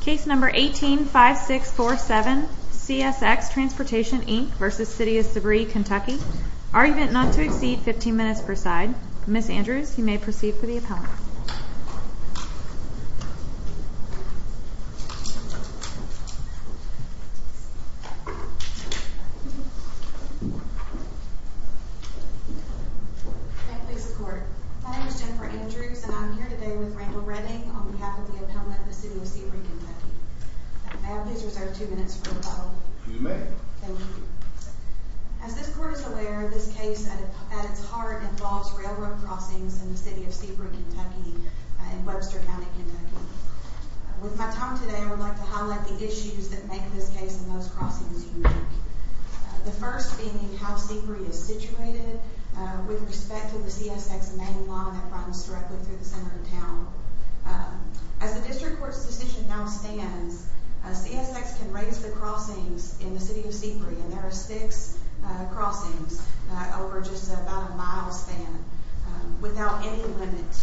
Case No. 18-5647 CSX Transportation Inc v. City of Sebree Kentucky Argument not to exceed 15 minutes per side. Ms. Andrews, you may proceed for the appellant. Thank you, Mr. Court. My name is Jennifer Andrews, and I'm here today with Randall Redding on behalf of the appellant of the City of Sebree Kentucky. May I please reserve two minutes for rebuttal? You may. Thank you. As this Court is aware, this case at its heart involves railroad crossings in the City of Sebree Kentucky and Webster County, Kentucky. With my time today, I would like to highlight the issues that make this case and those crossings unique. The first being how Sebree is situated with respect to the CSX main line that runs directly through the center of town. As the District Court's decision now stands, CSX can raise the crossings in the City of Sebree, and there are six crossings over just about a mile span, without any limit,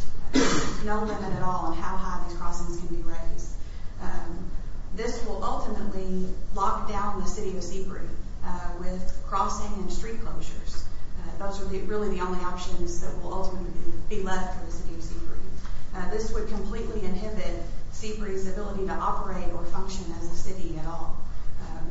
no limit at all on how high these crossings can be raised. This will ultimately lock down the City of Sebree with crossing and street closures. Those are really the only options that will ultimately be left for the City of Sebree. This would completely inhibit Sebree's ability to operate or function as a city at all.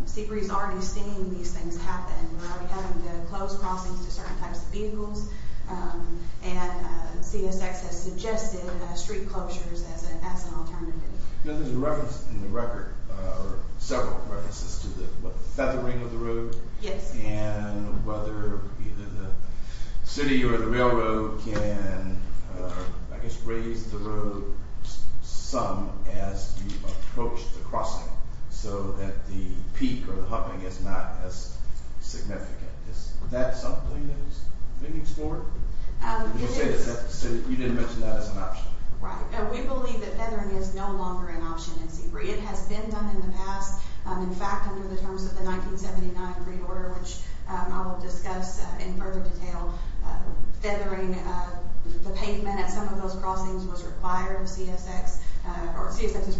Sebree's already seen these things happen. We're already having to close crossings to certain types of vehicles, and CSX has suggested street closures as an alternative. There's a reference in the record, or several references, to the feathering of the road. Yes. And whether either the city or the railroad can, I guess, raise the road some as you approach the crossing, so that the peak or the hopping is not as significant. Is that something that is being explored? You didn't mention that as an option. Right. We believe that feathering is no longer an option in Sebree. It has been done in the past. In fact, under the terms of the 1979 Great Order, which I will discuss in further detail, feathering the pavement at some of those crossings was required. CSX's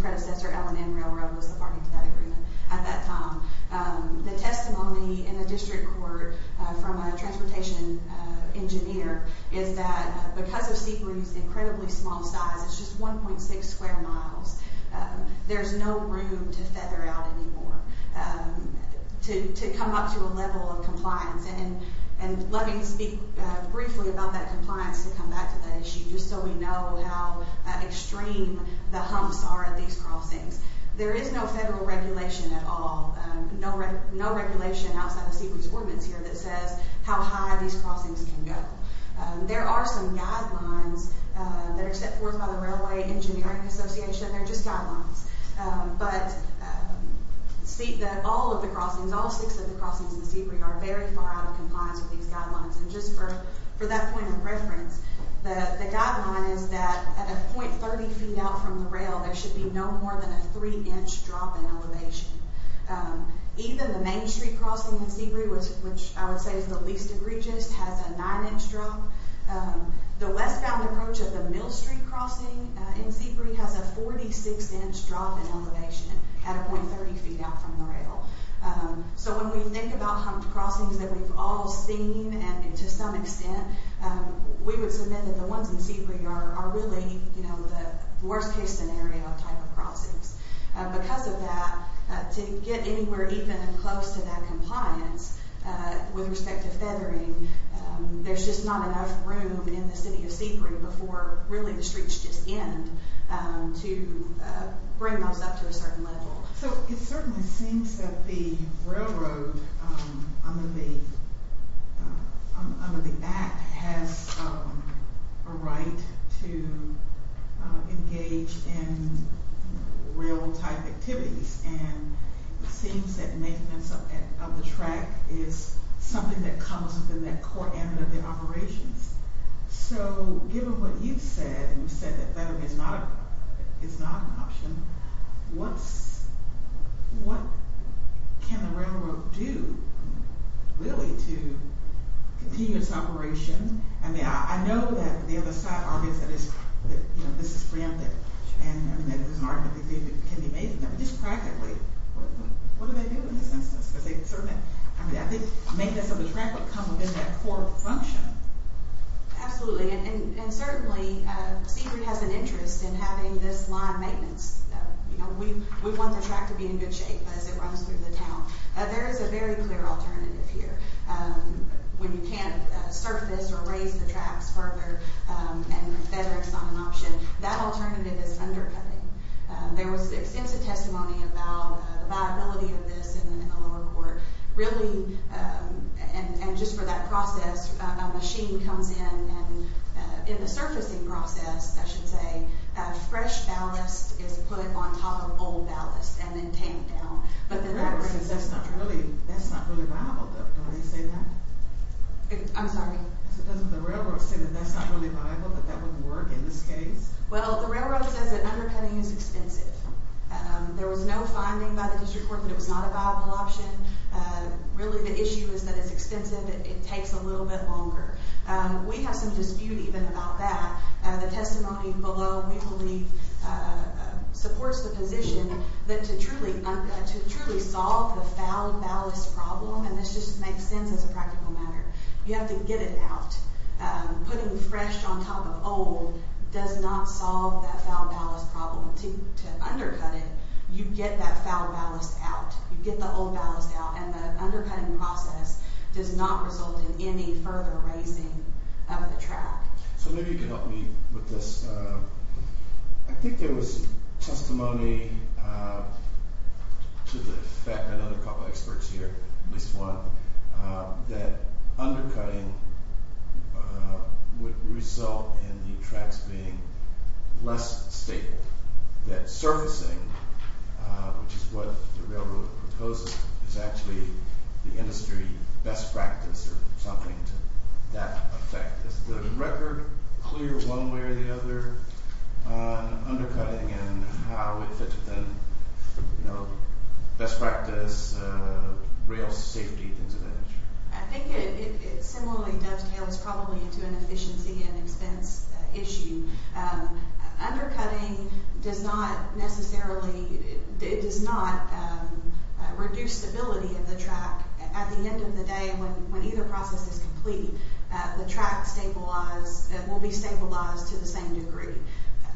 predecessor, L&N Railroad, was the party to that agreement at that time. The testimony in the district court from a transportation engineer is that because of Sebree's incredibly small size, it's just 1.6 square miles, there's no room to feather out anymore, to come up to a level of compliance. And let me speak briefly about that compliance to come back to that issue, just so we know how extreme the humps are at these crossings. There is no federal regulation at all, no regulation outside of Sebree's ordinance here that says how high these crossings can go. There are some guidelines that are set forth by the Railway Engineering Association. They're just guidelines. But all of the crossings, all six of the crossings in Sebree are very far out of compliance with these guidelines. And just for that point of reference, the guideline is that at a .30 feet out from the rail, there should be no more than a three inch drop in elevation. Even the main street crossing in Sebree, which I would say is the least egregious, has a nine inch drop. The westbound approach of the Mill Street crossing in Sebree has a 46 inch drop in elevation at a .30 feet out from the rail. So when we think about humped crossings that we've all seen and to some extent, we would submit that the ones in Sebree are really the worst case scenario type of crossings. Because of that, to get anywhere even close to that compliance with respect to feathering, there's just not enough room in the city of Sebree before really the streets just end to bring those up to a certain level. So it certainly seems that the railroad under the Act has a right to engage in rail type activities. And it seems that maintenance of the track is something that comes within that core element of the operations. So given what you've said, and you've said that feathering is not an option, what can the railroad do really to continue its operation? I know that the other side argues that this is preemptive and that there's an argument that it can be made, but just practically, what do they do in this instance? I think maintenance of the track would come within that core function. Absolutely, and certainly Sebree has an interest in having this line maintenance. We want the track to be in good shape as it runs through the town. There is a very clear alternative here. When you can't surface or raise the tracks further and feathering is not an option, that alternative is undercutting. There was extensive testimony about the viability of this in the lower court. Really, and just for that process, a machine comes in and in the surfacing process, I should say, a fresh ballast is put on top of old ballast and then tamed down. But the railroad says that's not really viable, don't they say that? I'm sorry? So doesn't the railroad say that that's not really viable, that that wouldn't work in this case? Well, the railroad says that undercutting is expensive. There was no finding by the district court that it was not a viable option. Really, the issue is that it's expensive, it takes a little bit longer. We have some dispute even about that. The testimony below we believe supports the position that to truly solve the foul ballast problem, and this just makes sense as a practical matter, you have to get it out. Putting fresh on top of old does not solve that foul ballast problem. To undercut it, you get that foul ballast out. You get the old ballast out, and the undercutting process does not result in any further raising of the track. So maybe you can help me with this. I think there was testimony to the fact, I know there are a couple of experts here, at least one, that undercutting would result in the tracks being less stable. That surfacing, which is what the railroad proposes, is actually the industry best practice or something to that effect. Is the record clear one way or the other on undercutting and how it fits within best practice, rail safety, things of that nature? I think it similarly dovetails probably to an efficiency and expense issue. Undercutting does not necessarily, it does not reduce stability of the track. At the end of the day, when either process is complete, the track will be stabilized to the same degree.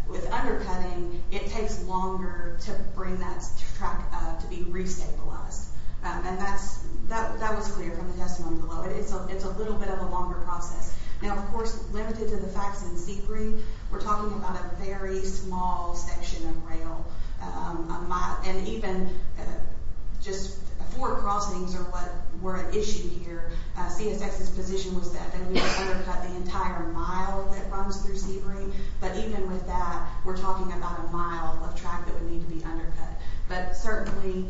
With undercutting, it takes longer to bring that track to be re-stabilized. That was clear from the testimony below. It's a little bit of a longer process. Of course, limited to the facts in Seabury, we're talking about a very small section of rail. Even just four crossings were an issue here. CSX's position was that they would undercut the entire mile that runs through Seabury. But even with that, we're talking about a mile of track that would need to be undercut. Certainly,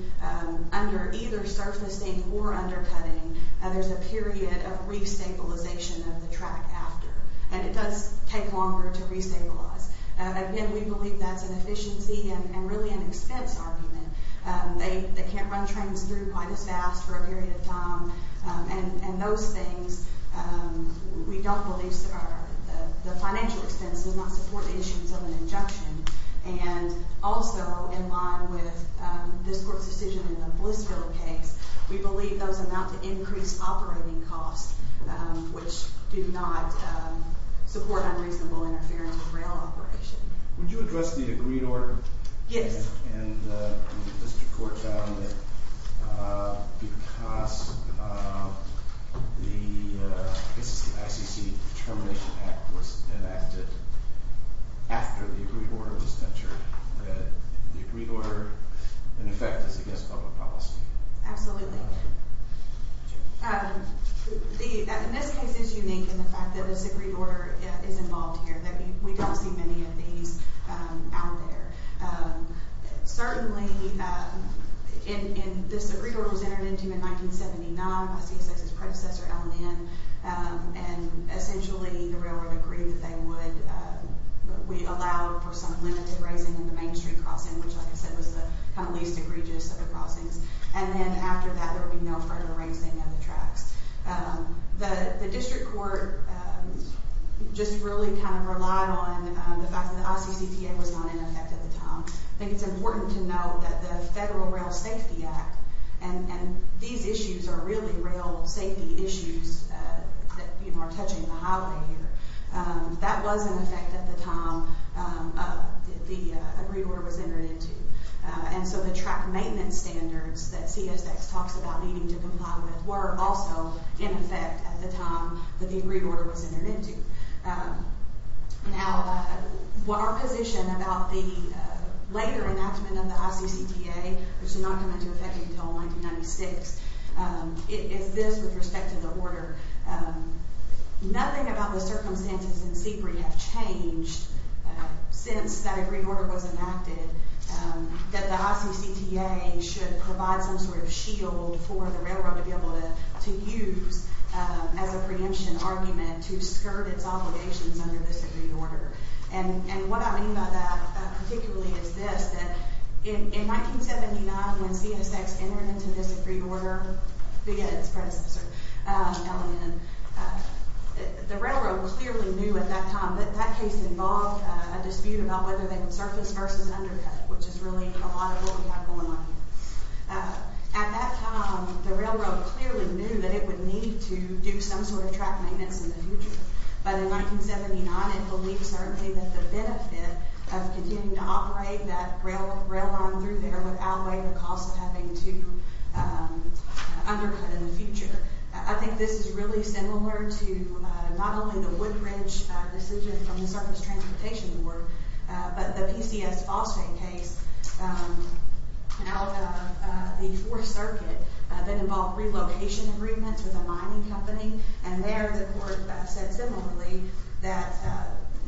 under either surfacing or undercutting, there's a period of re-stabilization of the track after. It does take longer to re-stabilize. Again, we believe that's an efficiency and really an expense argument. They can't run trains through quite as fast for a period of time. Those things, we don't believe, the financial expense does not support the issues of an injunction. Also, in line with this court's decision in the Blissville case, we believe those amount to increased operating costs, which do not support unreasonable interference with rail operation. Would you address the agreed order? Yes. The district court found that because the ICC Termination Act was enacted after the agreed order was entered, that the agreed order, in effect, is against public policy. Absolutely. This case is unique in the fact that this agreed order is involved here. We don't see many of these out there. Certainly, this agreed order was entered into in 1979 by CSX's predecessor, LNN. Essentially, the railroad agreed that they would allow for some limited raising in the main street crossing, which, like I said, was the least egregious of the crossings. Then, after that, there would be no further raising of the tracks. The district court just really relied on the fact that the ICCPA was not in effect at the time. I think it's important to note that the Federal Rail Safety Act, and these issues are really rail safety issues that are touching the highway here, that was in effect at the time the agreed order was entered into. The track maintenance standards that CSX talks about needing to comply with were also in effect at the time that the agreed order was entered into. Our position about the later enactment of the ICCPA, which did not come into effect until 1996, nothing about the circumstances in Seabury have changed since that agreed order was enacted that the ICCPA should provide some sort of shield for the railroad to be able to use as a preemption argument to skirt its obligations under this agreed order. What I mean by that, particularly, is this. In 1979, when CSX entered into this agreed order, the railroad clearly knew at that time that that case involved a dispute about whether they would surface versus undercut, which is really a lot of what we have going on here. At that time, the railroad clearly knew that it would need to do some sort of track maintenance in the future. But in 1979, it believed certainly that the benefit of continuing to operate that rail line through there would outweigh the cost of having to undercut in the future. I think this is really similar to not only the Woodbridge decision from the Circus Transportation Board, but the PCS phosphate case out of the Fourth Circuit that involved relocation agreements with a mining company. There, the court said similarly that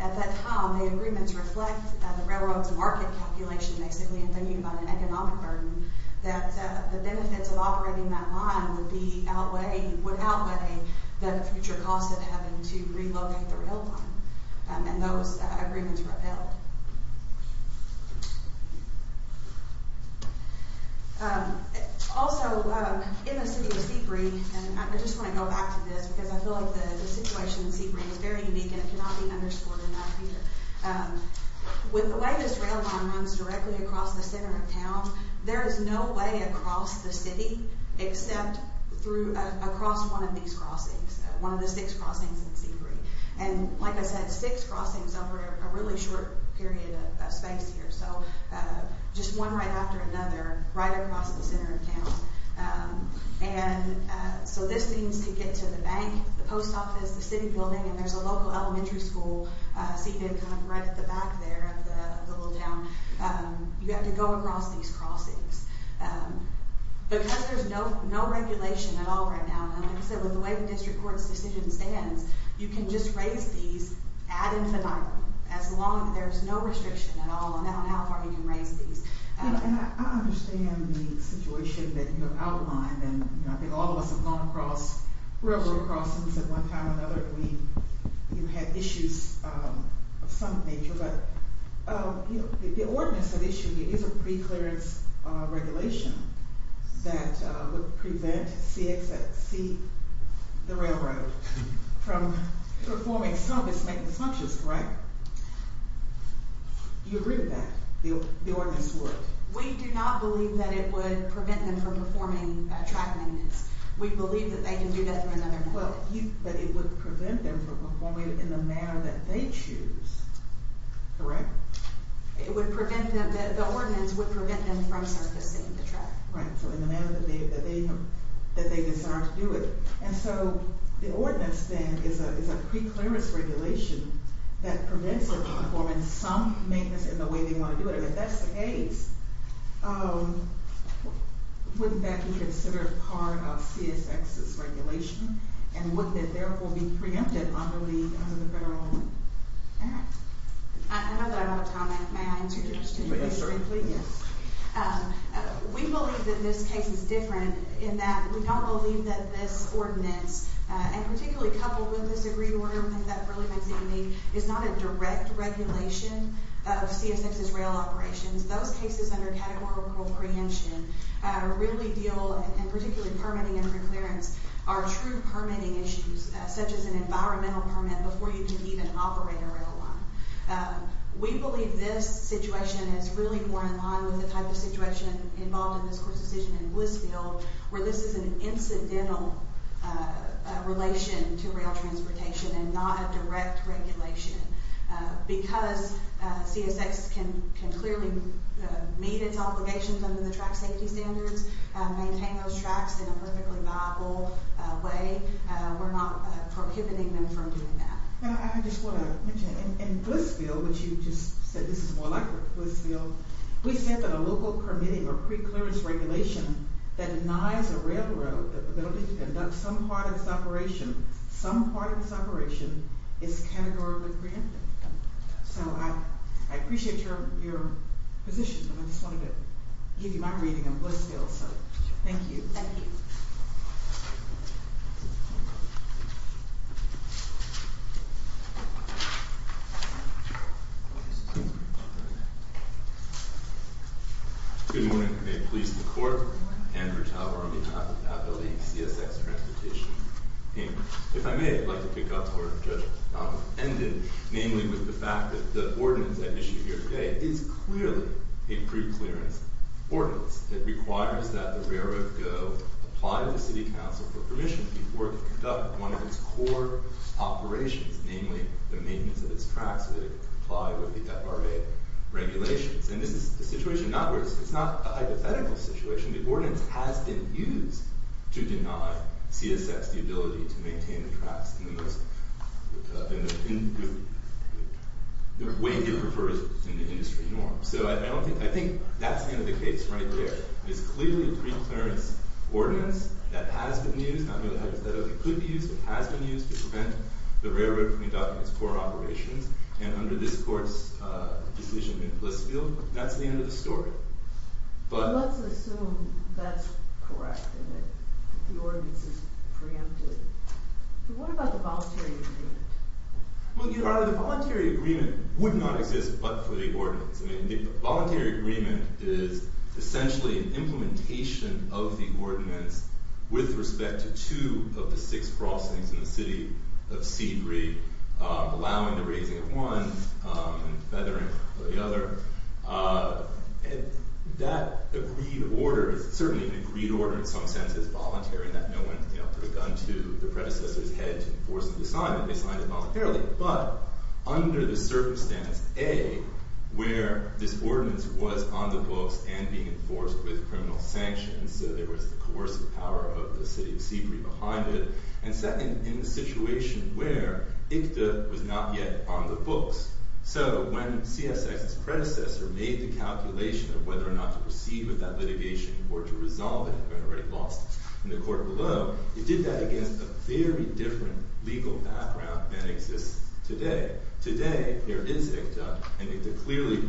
at that time, the agreements reflect the railroad's market calculation, basically thinking about an economic burden, that the benefits of operating that line would outweigh the future cost of having to relocate the rail line. Those agreements were upheld. Also, in the city of Seabreeze, and I just want to go back to this, because I feel like the situation in Seabreeze is very unique, and it cannot be underscored enough here. With the way this rail line runs directly across the center of town, there is no way across the city except through, across one of these crossings, one of the six crossings in Seabreeze. Like I said, six crossings over a really short period of time. Just one right after another, right across the center of town. This means to get to the bank, the post office, the city building, and there's a local elementary school seated right at the back there of the little town. You have to go across these crossings. Because there's no regulation at all right now, and like I said, with the way the district court's decision stands, you can just raise these ad infinitum, as long as there's no restriction at all on how far you can raise these. And I understand the situation that you have outlined, and I think all of us have gone across railroad crossings at one time or another. You had issues of some nature, but the ordinance at issue here is a pre-clearance regulation that would prevent CXC, the railroad, from performing some of its maintenance functions, right? Do you agree with that, the ordinance would? We do not believe that it would prevent them from performing track maintenance. We believe that they can do that through another method. But it would prevent them from performing it in the manner that they choose, correct? It would prevent them, the ordinance would prevent them from surfacing the track. Right, so in the manner that they desire to do it. And so the ordinance then is a pre-clearance regulation that prevents them from performing some maintenance in the way they want to do it. And if that's the case, wouldn't that be considered part of CSX's regulation? And would that therefore be preempted under the federal law? All right. I know that I'm out of time. May I answer your question? Yes, certainly. We believe that this case is different in that we don't believe that this ordinance, and particularly coupled with this agreed order, I think that really makes it unique, is not a direct regulation of CSX's rail operations. Those cases under categorical preemption really deal, and particularly permitting and preclearance, are true permitting issues, such as an environmental permit before you can even operate a rail line. We believe this situation is really more in line with the type of situation involved in this court's decision in Blissfield, where this is an incidental relation to rail transportation and not a direct regulation. Because CSX can clearly meet its obligations under the track safety standards, maintain those tracks in a perfectly viable way, we're not prohibiting them from doing that. I just want to mention, in Blissfield, which you just said this is more like Blissfield, we sent a local permitting or preclearance regulation that denies a railroad the ability to conduct some part of its operation, some part of its operation, is categorically preemptive. So I appreciate your position, but I just wanted to give you my reading on Blissfield. Thank you. Thank you. Good morning. May it please the Court, Andrew Tauber on behalf of the CSX Transportation team. If I may, I'd like to pick up where Judge Donovan ended, namely with the fact that the ordinance at issue here today is clearly a preclearance ordinance. It requires that the railroad go, apply to the city council for permission before it can conduct one of its core operations, namely the maintenance of its tracks, so that it can comply with the FRA regulations. And this is the situation, it's not a hypothetical situation. The ordinance has been used to deny CSX the ability to maintain the tracks in the way it prefers in the industry norm. So I think that's the end of the case right there. It's clearly a preclearance ordinance that has been used, not only could be used, but has been used to prevent the railroad from conducting its core operations. And under this Court's decision in Blissfield, that's the end of the story. Let's assume that's correct, and that the ordinance is preemptive. But what about the voluntary agreement? The voluntary agreement would not exist but for the ordinance. I mean, the voluntary agreement is essentially an implementation of the ordinance with respect to two of the six crossings in the city of C3, allowing the raising of one and feathering the other. That agreed order is certainly an agreed order in some sense. It's voluntary in that no one put a gun to the predecessor's head to enforce the assignment. They signed it voluntarily. But under the circumstance, A, where this ordinance was on the books and being enforced with criminal sanctions, so there was the coercive power of the city of C3 behind it, and second, in the situation where ICTA was not yet on the books. So when CSX's predecessor made the calculation of whether or not to proceed with that litigation or to resolve it, who had already lost in the court below, it did that against a very different legal background than exists today. Today, there is ICTA, and ICTA clearly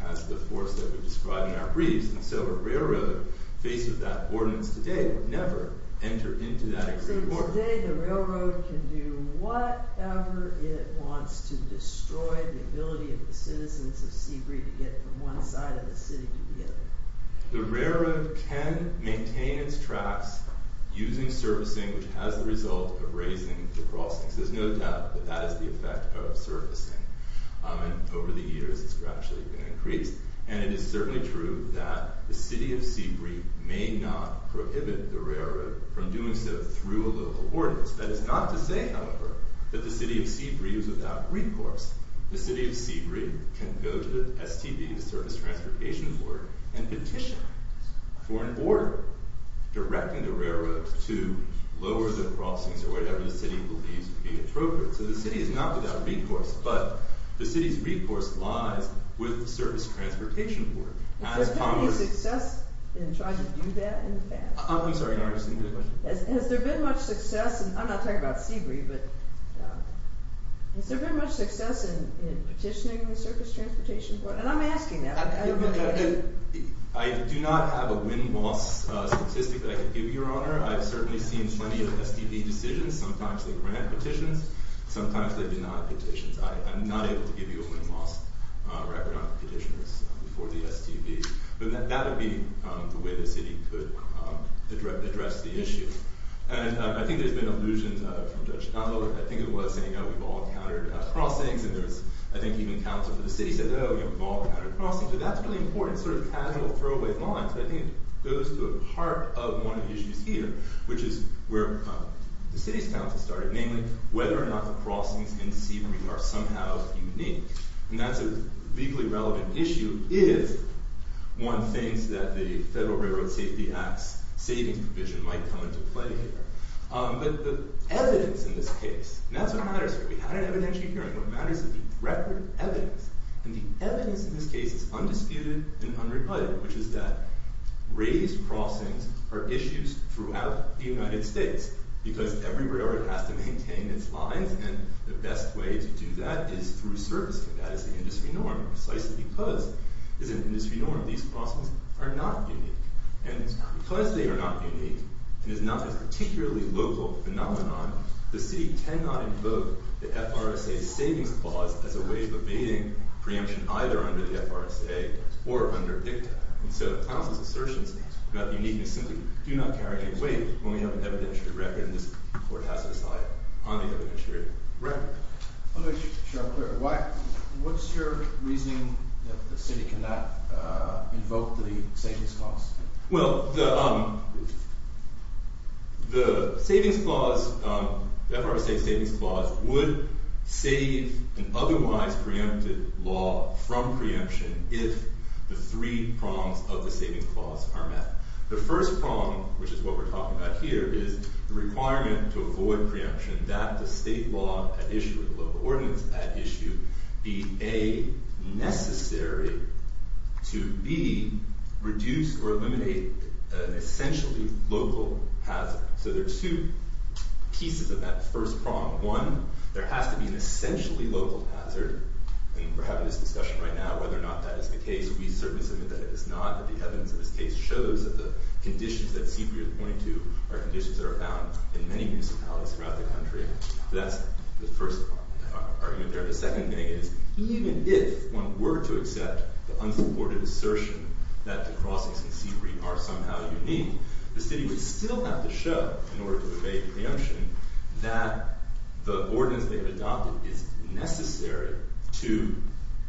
has the force that we've described in our briefs. And so a railroad faced with that ordinance today would never enter into that existence. So today the railroad can do whatever it wants to destroy the ability of the citizens of C3 to get from one side of the city to the other. The railroad can maintain its tracks using servicing, which has the result of raising the crossings. There's no doubt that that is the effect of servicing. And over the years, it's gradually been increased. And it is certainly true that the city of C3 may not prohibit the railroad from doing so through a local ordinance. That is not to say, however, that the city of C3 is without recourse. The city of C3 can go to the STD, the Service Transportation Board, and petition for an order directing the railroad to lower the crossings or whatever the city believes to be appropriate. So the city is not without recourse. But the city's recourse lies with the Service Transportation Board. Has there been any success in trying to do that in the past? I'm sorry. You're asking a good question. Has there been much success? And I'm not talking about Seabreeze. But has there been much success in petitioning the Service Transportation Board? I do not have a win-loss statistic that I can give you, Your Honor. I've certainly seen plenty of STD decisions. Sometimes they grant petitions. Sometimes they deny petitions. I'm not able to give you a win-loss record on petitions before the STD. But that would be the way the city could address the issue. And I think there's been allusions from Judge Dunlop. I think it was saying, oh, we've all countered crossings. And there was, I think, even counsel for the city said, oh, we've all countered crossings. But that's a really important casual throwaway line. So I think it goes to a part of one of the issues here, which is where the city's counsel started, namely whether or not the crossings in Seabreeze are somehow unique. And that's a legally relevant issue if one thinks that the Federal Railroad Safety Act's savings provision might come into play here. But the evidence in this case, and that's what matters here. We had an evidentiary hearing. What matters is the record evidence. And the evidence in this case is undisputed and unrebutted, which is that raised crossings are issues throughout the United States. Because every railroad has to maintain its lines. And the best way to do that is through servicing. That is the industry norm. And precisely because it's an industry norm, these crossings are not unique. And because they are not unique and is not a particularly local phenomenon, the city cannot invoke the FRSA's savings clause as a way of evading preemption either under the FRSA or under DICTA. And so counsel's assertions about the uniqueness simply do not carry any weight when we have an evidentiary record. And this court has to decide on the evidentiary record. Let me make sure I'm clear. What's your reasoning that the city cannot invoke the savings clause? Well, the savings clause, the FRSA's savings clause, would save an otherwise preempted law from preemption if the three prongs of the savings clause are met. The first prong, which is what we're talking about here, is the requirement to avoid preemption that the state law at issue, the local ordinance at issue, be A, necessary to B, reduce or eliminate an essentially local hazard. So there are two pieces of that first prong. One, there has to be an essentially local hazard. And we're having this discussion right now whether or not that is the case. We certainly submit that it is not. The evidence of this case shows that the conditions that Seabury is pointing to are conditions that are found in many municipalities throughout the country. So that's the first argument there. The second thing is, even if one were to accept the unsupported assertion that the crossings in Seabury are somehow unique, the city would still have to show, in order to evade preemption, that the ordinance they've made necessary to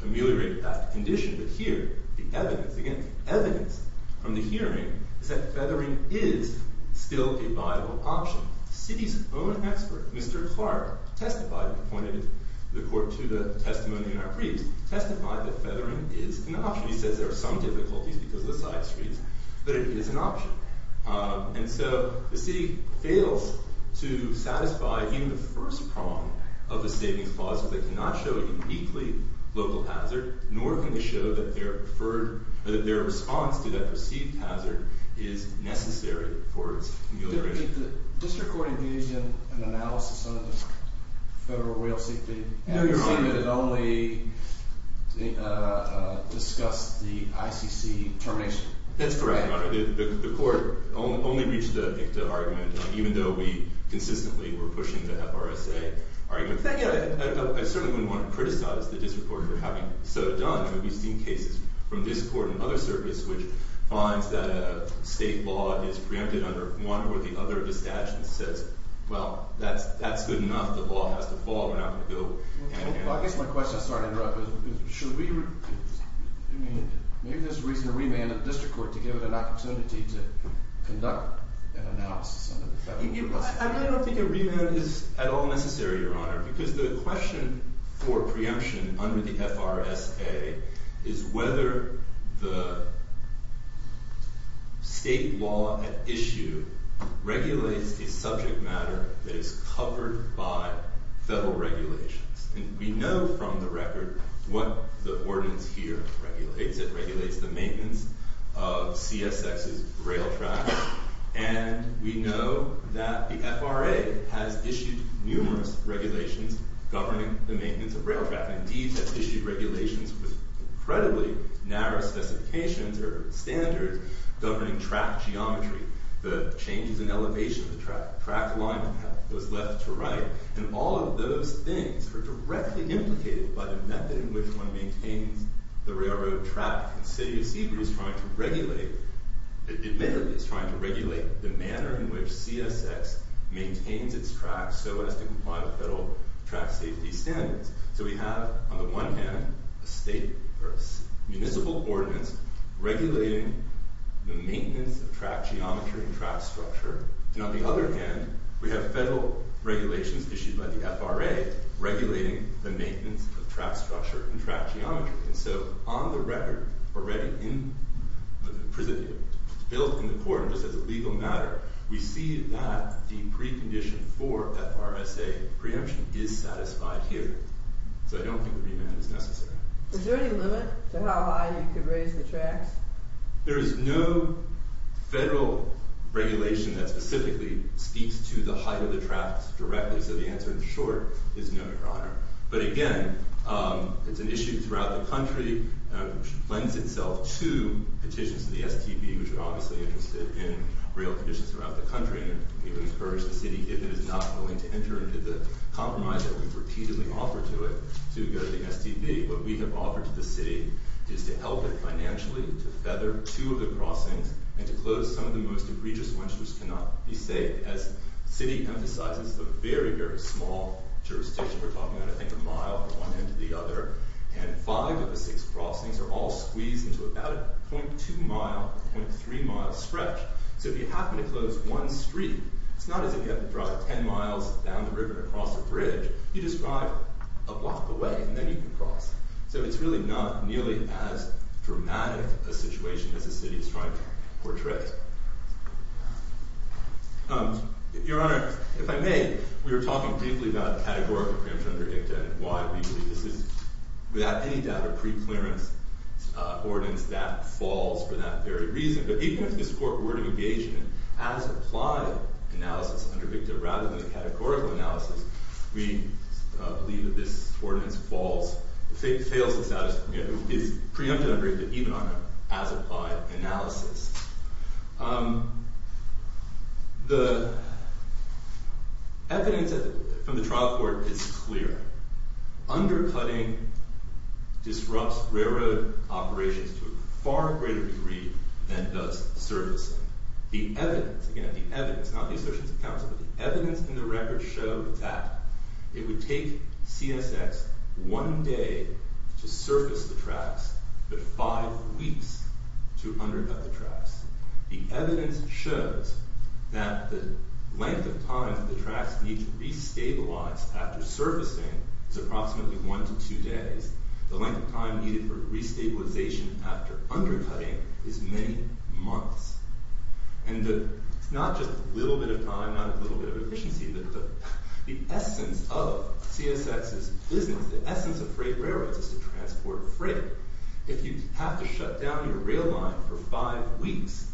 ameliorate that condition. But here, the evidence, again, the evidence from the hearing is that feathering is still a viable option. The city's own expert, Mr. Clark, testified and pointed the court to the testimony in our briefs, testified that feathering is an option. He says there are some difficulties because of the side streets, but it is an option. And so the city fails to satisfy even the first prong of the savings clause. So they cannot show uniquely local hazard, nor can they show that their response to that perceived hazard is necessary for its amelioration. Did the district court engage in an analysis of the Federal Rail Safety Act? No, Your Honor. And it only discussed the ICC termination? That's correct, Your Honor. The court only reached the argument, even though we consistently were pushing the FRSA argument. Thank you. I certainly wouldn't want to criticize the district court for having so done. We've seen cases from this court and other circuits which finds that a state law is preempted under one or the other of the statutes. It says, well, that's good enough. The law has to fall. We're not going to go hand in hand. I guess my question, sorry to interrupt, is maybe there's a reason to remand the district court to give it an opportunity to conduct an analysis under the Federal Rail Safety Act. I don't think a remand is at all necessary, Your Honor, because the question for preemption under the FRSA is whether the state law at issue regulates a subject matter that is covered by federal regulations. And we know from the record what the ordinance here regulates. It regulates the maintenance of CSX's rail track. And we know that the FRA has issued numerous regulations governing the maintenance of rail track. Indeed, it's issued regulations with incredibly narrow specifications or standards governing track geometry, the changes in elevation of the track, track alignment of those left to right. And all of those things are directly implicated by the method in which one of the tracks in the city of Seabury is trying to regulate the manner in which CSX maintains its tracks so as to comply with federal track safety standards. So we have, on the one hand, a municipal ordinance regulating the maintenance of track geometry and track structure. And on the other hand, we have federal regulations issued by the FRA regulating the maintenance of track structure and track geometry. And so on the record, already built in the court just as a legal matter, we see that the precondition for FRSA preemption is satisfied here. So I don't think remand is necessary. Is there any limit to how high you could raise the tracks? There is no federal regulation that specifically speaks to the height of the tracks directly. So the answer, in short, is no, Your Honor. But again, it's an issue throughout the country which lends itself to petitions to the STB, which are obviously interested in rail conditions throughout the country. And we would encourage the city, if it is not willing to enter into the compromise that we've repeatedly offered to it, to go to the STB. What we have offered to the city is to help it financially, to feather two of the crossings, and to close some of the most egregious ones which cannot be saved, as the city emphasizes the very, very small jurisdiction we're talking about, I think, a mile from one end to the other. And five of the six crossings are all squeezed into about a 0.2 mile, 0.3 mile stretch. So if you happen to close one street, it's not as if you have to drive 10 miles down the river to cross a bridge. You just drive a block away, and then you can cross. So it's really not nearly as dramatic a situation as the city is trying to portray. Your Honor, if I may, we were talking briefly about categorical preemption under ICTA, and why we believe this is, without any doubt, a preclearance ordinance that falls for that very reason. But even if this court were to engage in an as-applied analysis under ICTA, rather than a categorical analysis, we believe that this ordinance fails the status, is preempted under ICTA, even on an as-applied analysis. The evidence from the trial court is clear. Undercutting disrupts railroad operations to a far greater degree than does surfacing. The evidence, again, the evidence, not the assertions of counsel, but the evidence in the record show that it would take CSX one day to surface the tracks, but five weeks to undercut the tracks. The evidence shows that the length of time that the tracks need to re-stabilize after surfacing is approximately one to two days. The length of time needed for re-stabilization after undercutting is many months. And it's not just a little bit of time, not a little bit of efficiency, but the essence of CSX's business, the essence of freight railroads, is to transport freight. If you have to shut down your rail line for five weeks,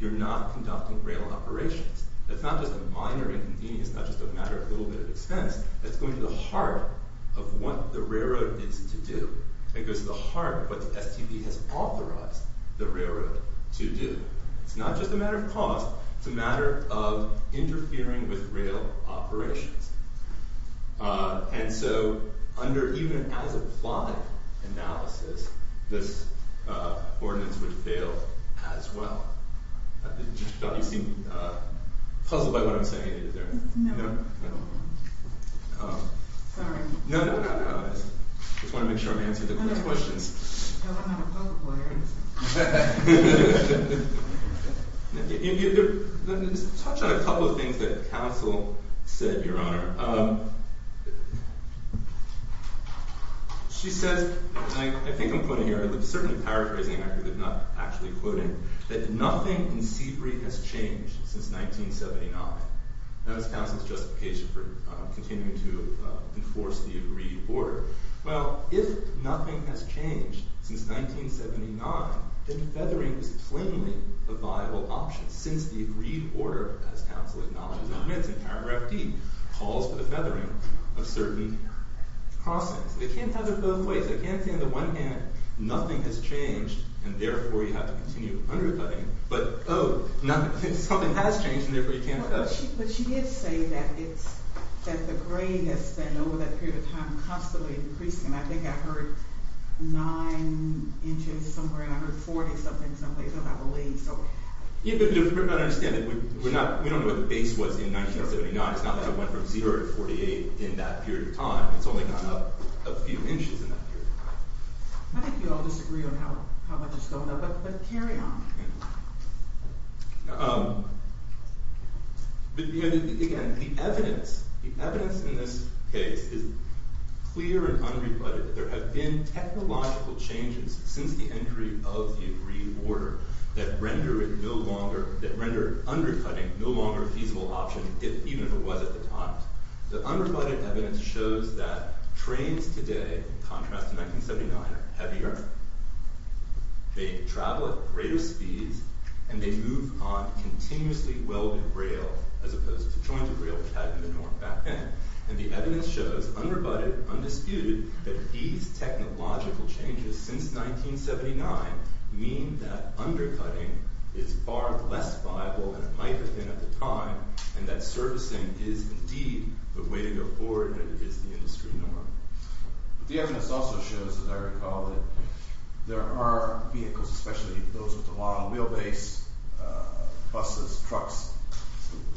you're not conducting rail operations. It's not just a minor inconvenience, not just a matter of a little bit of expense, it's going to the heart of what the railroad is to do. It goes to the heart of what STB has authorized the railroad to do. It's not just a matter of cost, it's a matter of interfering with rail operations. And so, under even as applied analysis, this ordinance would fail as well. I thought you seemed puzzled by what I'm saying. Is there? No. Sorry. No, no, no, no. I just want to make sure I'm answering the questions. I don't have a poker player. I understand. Let me just touch on a couple of things that counsel said, Your Honor. She says, and I think I'm quoting here, I'm certainly paraphrasing, I'm not actually quoting, that nothing in Seabury has changed since 1979. That was counsel's justification for continuing to enforce the agreed order. Well, if nothing has changed since 1979, then feathering is plainly a viable option since the agreed order, as counsel acknowledges in paragraph D, calls for the feathering of certain crossings. They can't feather both ways. They can't say on the one hand, nothing has changed, and therefore you have to continue undercutting, but oh, something has changed, and therefore you can't feather. But she did say that the grade has been, over that period of time, constantly increasing. I think I heard nine inches somewhere, and I heard 40-something someplace, Yeah, but we're not understanding. We don't know what the base was in 1979. It's not that it went from zero to 48 in that period of time. It's only gone up a few inches in that period. I think we all disagree on how much has gone up, but carry on. Again, the evidence in this case is clear and unrebutted that there have been technological changes since the entry of the agreed order that render undercutting no longer a feasible option, even if it was at the time. The unrebutted evidence shows that trains today, in contrast to 1979, are heavier. They travel at greater speeds, and they move on continuously welded rail, as opposed to jointed rail, which had the norm back then. The evidence shows, unrebutted, undisputed, that these technological changes since 1979 mean that undercutting is far less viable than it might have been at the time, and that servicing is indeed the way to go forward, and it is the industry norm. The evidence also shows, as I recall, that there are vehicles, especially those with the long wheelbase, buses, trucks,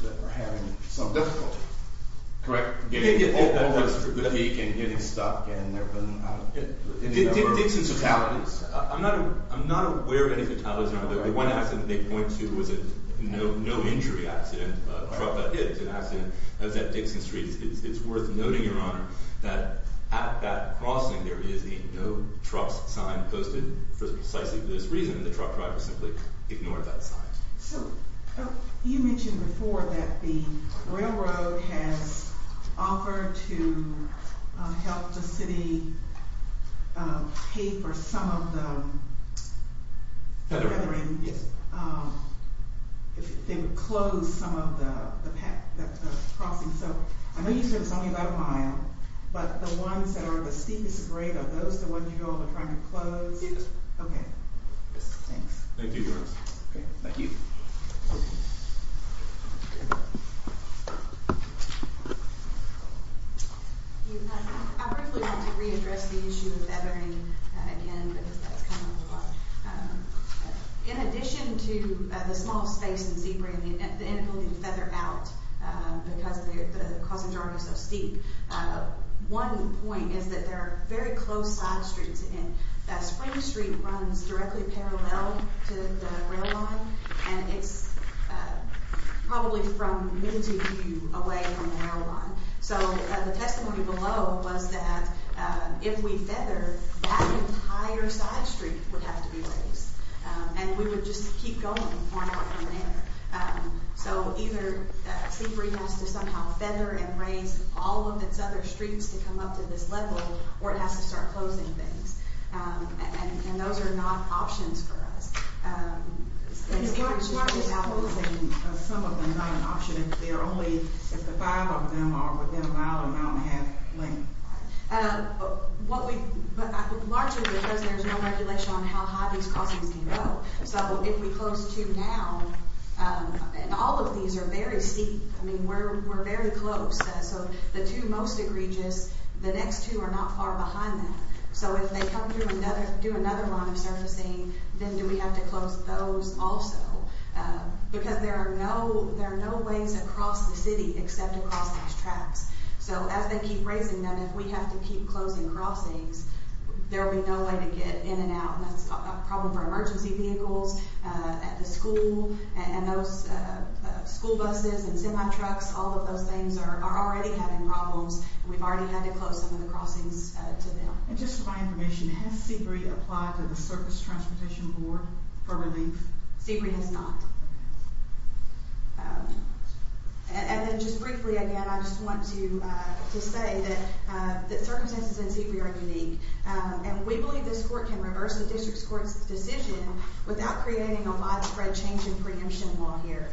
that are having some difficulty. Correct? Getting over the peak and getting stuck. Dixon fatalities. I'm not aware of any fatalities. The one accident they point to was a no-injury accident. A truck got hit. It was an accident. It was at Dixon Street. It's worth noting, Your Honor, that at that crossing, there is a no-trucks sign posted for precisely this reason. The truck driver simply ignored that sign. So, you mentioned before that the railroad has offered to help the city pay for some of the feathering. Yes. If they would close some of the crossing. So, I know you said it's only about a mile, but the ones that are the steepest grade, are those the ones you go over trying to close? Yes. Okay. Thanks. Thank you, Your Honor. Thank you. I briefly want to readdress the issue of feathering again, because that's kind of a lot. In addition to the small space in Seabury and the inability to feather out because the crossing is already so steep, one point is that there are very close side streets. Spring Street runs directly parallel to the rail line, and it's probably from mid-view away from the rail line. So, the testimony below was that if we feather, that entire side street would have to be raised, and we would just keep going more and more from there. So, either Seabury has to somehow feather and raise all of its other streets to come up to this level, or it has to start closing things, and those are not options for us. It's not just closing some of them, not an option. If there are only, if the five of them are within an hour, an hour and a half length. Largely because there's no regulation on how high these crossings can go. So, if we close two now, and all of these are very steep. I mean, we're very close. So, the two most egregious, the next two are not far behind that. So, if they come through another, do another line of surfacing, then do we have to close those also? Because there are no ways across the city except across these tracks. So, as they keep raising them, if we have to keep closing crossings, there'll be no way to get in and out, and that's a problem for emergency vehicles, at the school, and those school buses and semi trucks, all of those things are already having problems, and we've already had to close some of the crossings to them. And just for my information, has Seabury applied to the Surface Transportation Board for relief? Seabury has not. And then, just briefly again, I just want to say that circumstances in Seabury are unique, and we believe this court can reverse the district's court's decision without creating a widespread change in preemption law here.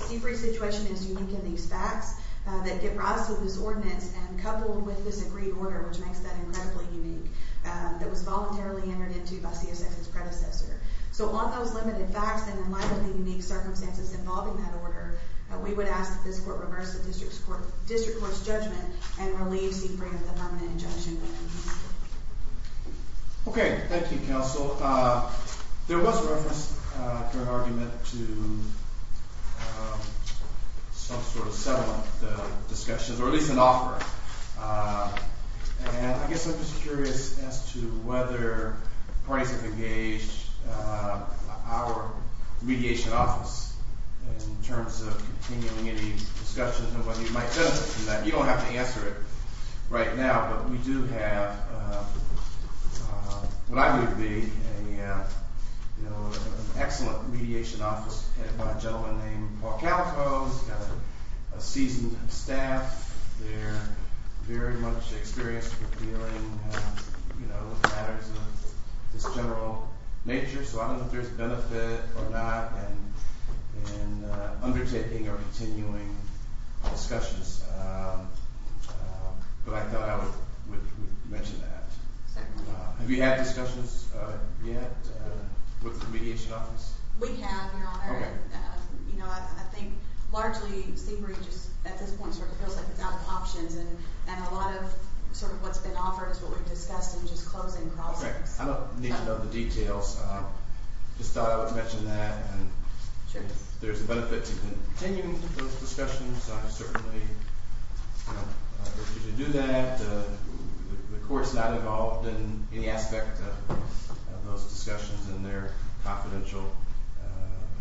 Seabury's situation is unique in these facts that give rise to this ordinance, and coupled with this agreed order, which makes that incredibly unique, that was voluntarily entered into by CSF's predecessor. So on those limited facts, and in light of the unique circumstances involving that order, we would ask that this court reverse the district court's judgment and relieve Seabury of the permanent injunction. Okay, thank you, counsel. There was reference to an argument to some sort of settlement discussions, or at least an offer. And I guess I'm just curious as to whether parties have engaged our mediation office in terms of continuing any discussions and whether you might benefit from that. You don't have to answer it right now, but we do have what I would be an excellent mediation office headed by a gentleman named Paul Calico. He's got a seasoned staff there, very much experienced with dealing with matters of this general nature. So I don't know if there's benefit or not in undertaking or continuing discussions. But I thought I would mention that. Have you had discussions yet with the mediation office? We have, your honor. I think largely Seabury at this point feels like it's out of options, and a lot of what's been offered is what we discussed in just closing process. I don't need to know the details. I just thought I would mention that. And if there's a benefit to continuing those discussions, I would certainly encourage you to do that. The court's not involved in any aspect of those discussions in their confidential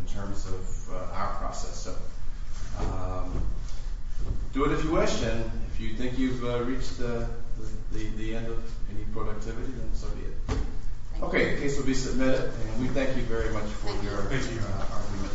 in terms of our process. So do it if you wish, and if you think you've reached the end of any productivity, then so be it. Okay, the case will be submitted, and we thank you very much for your...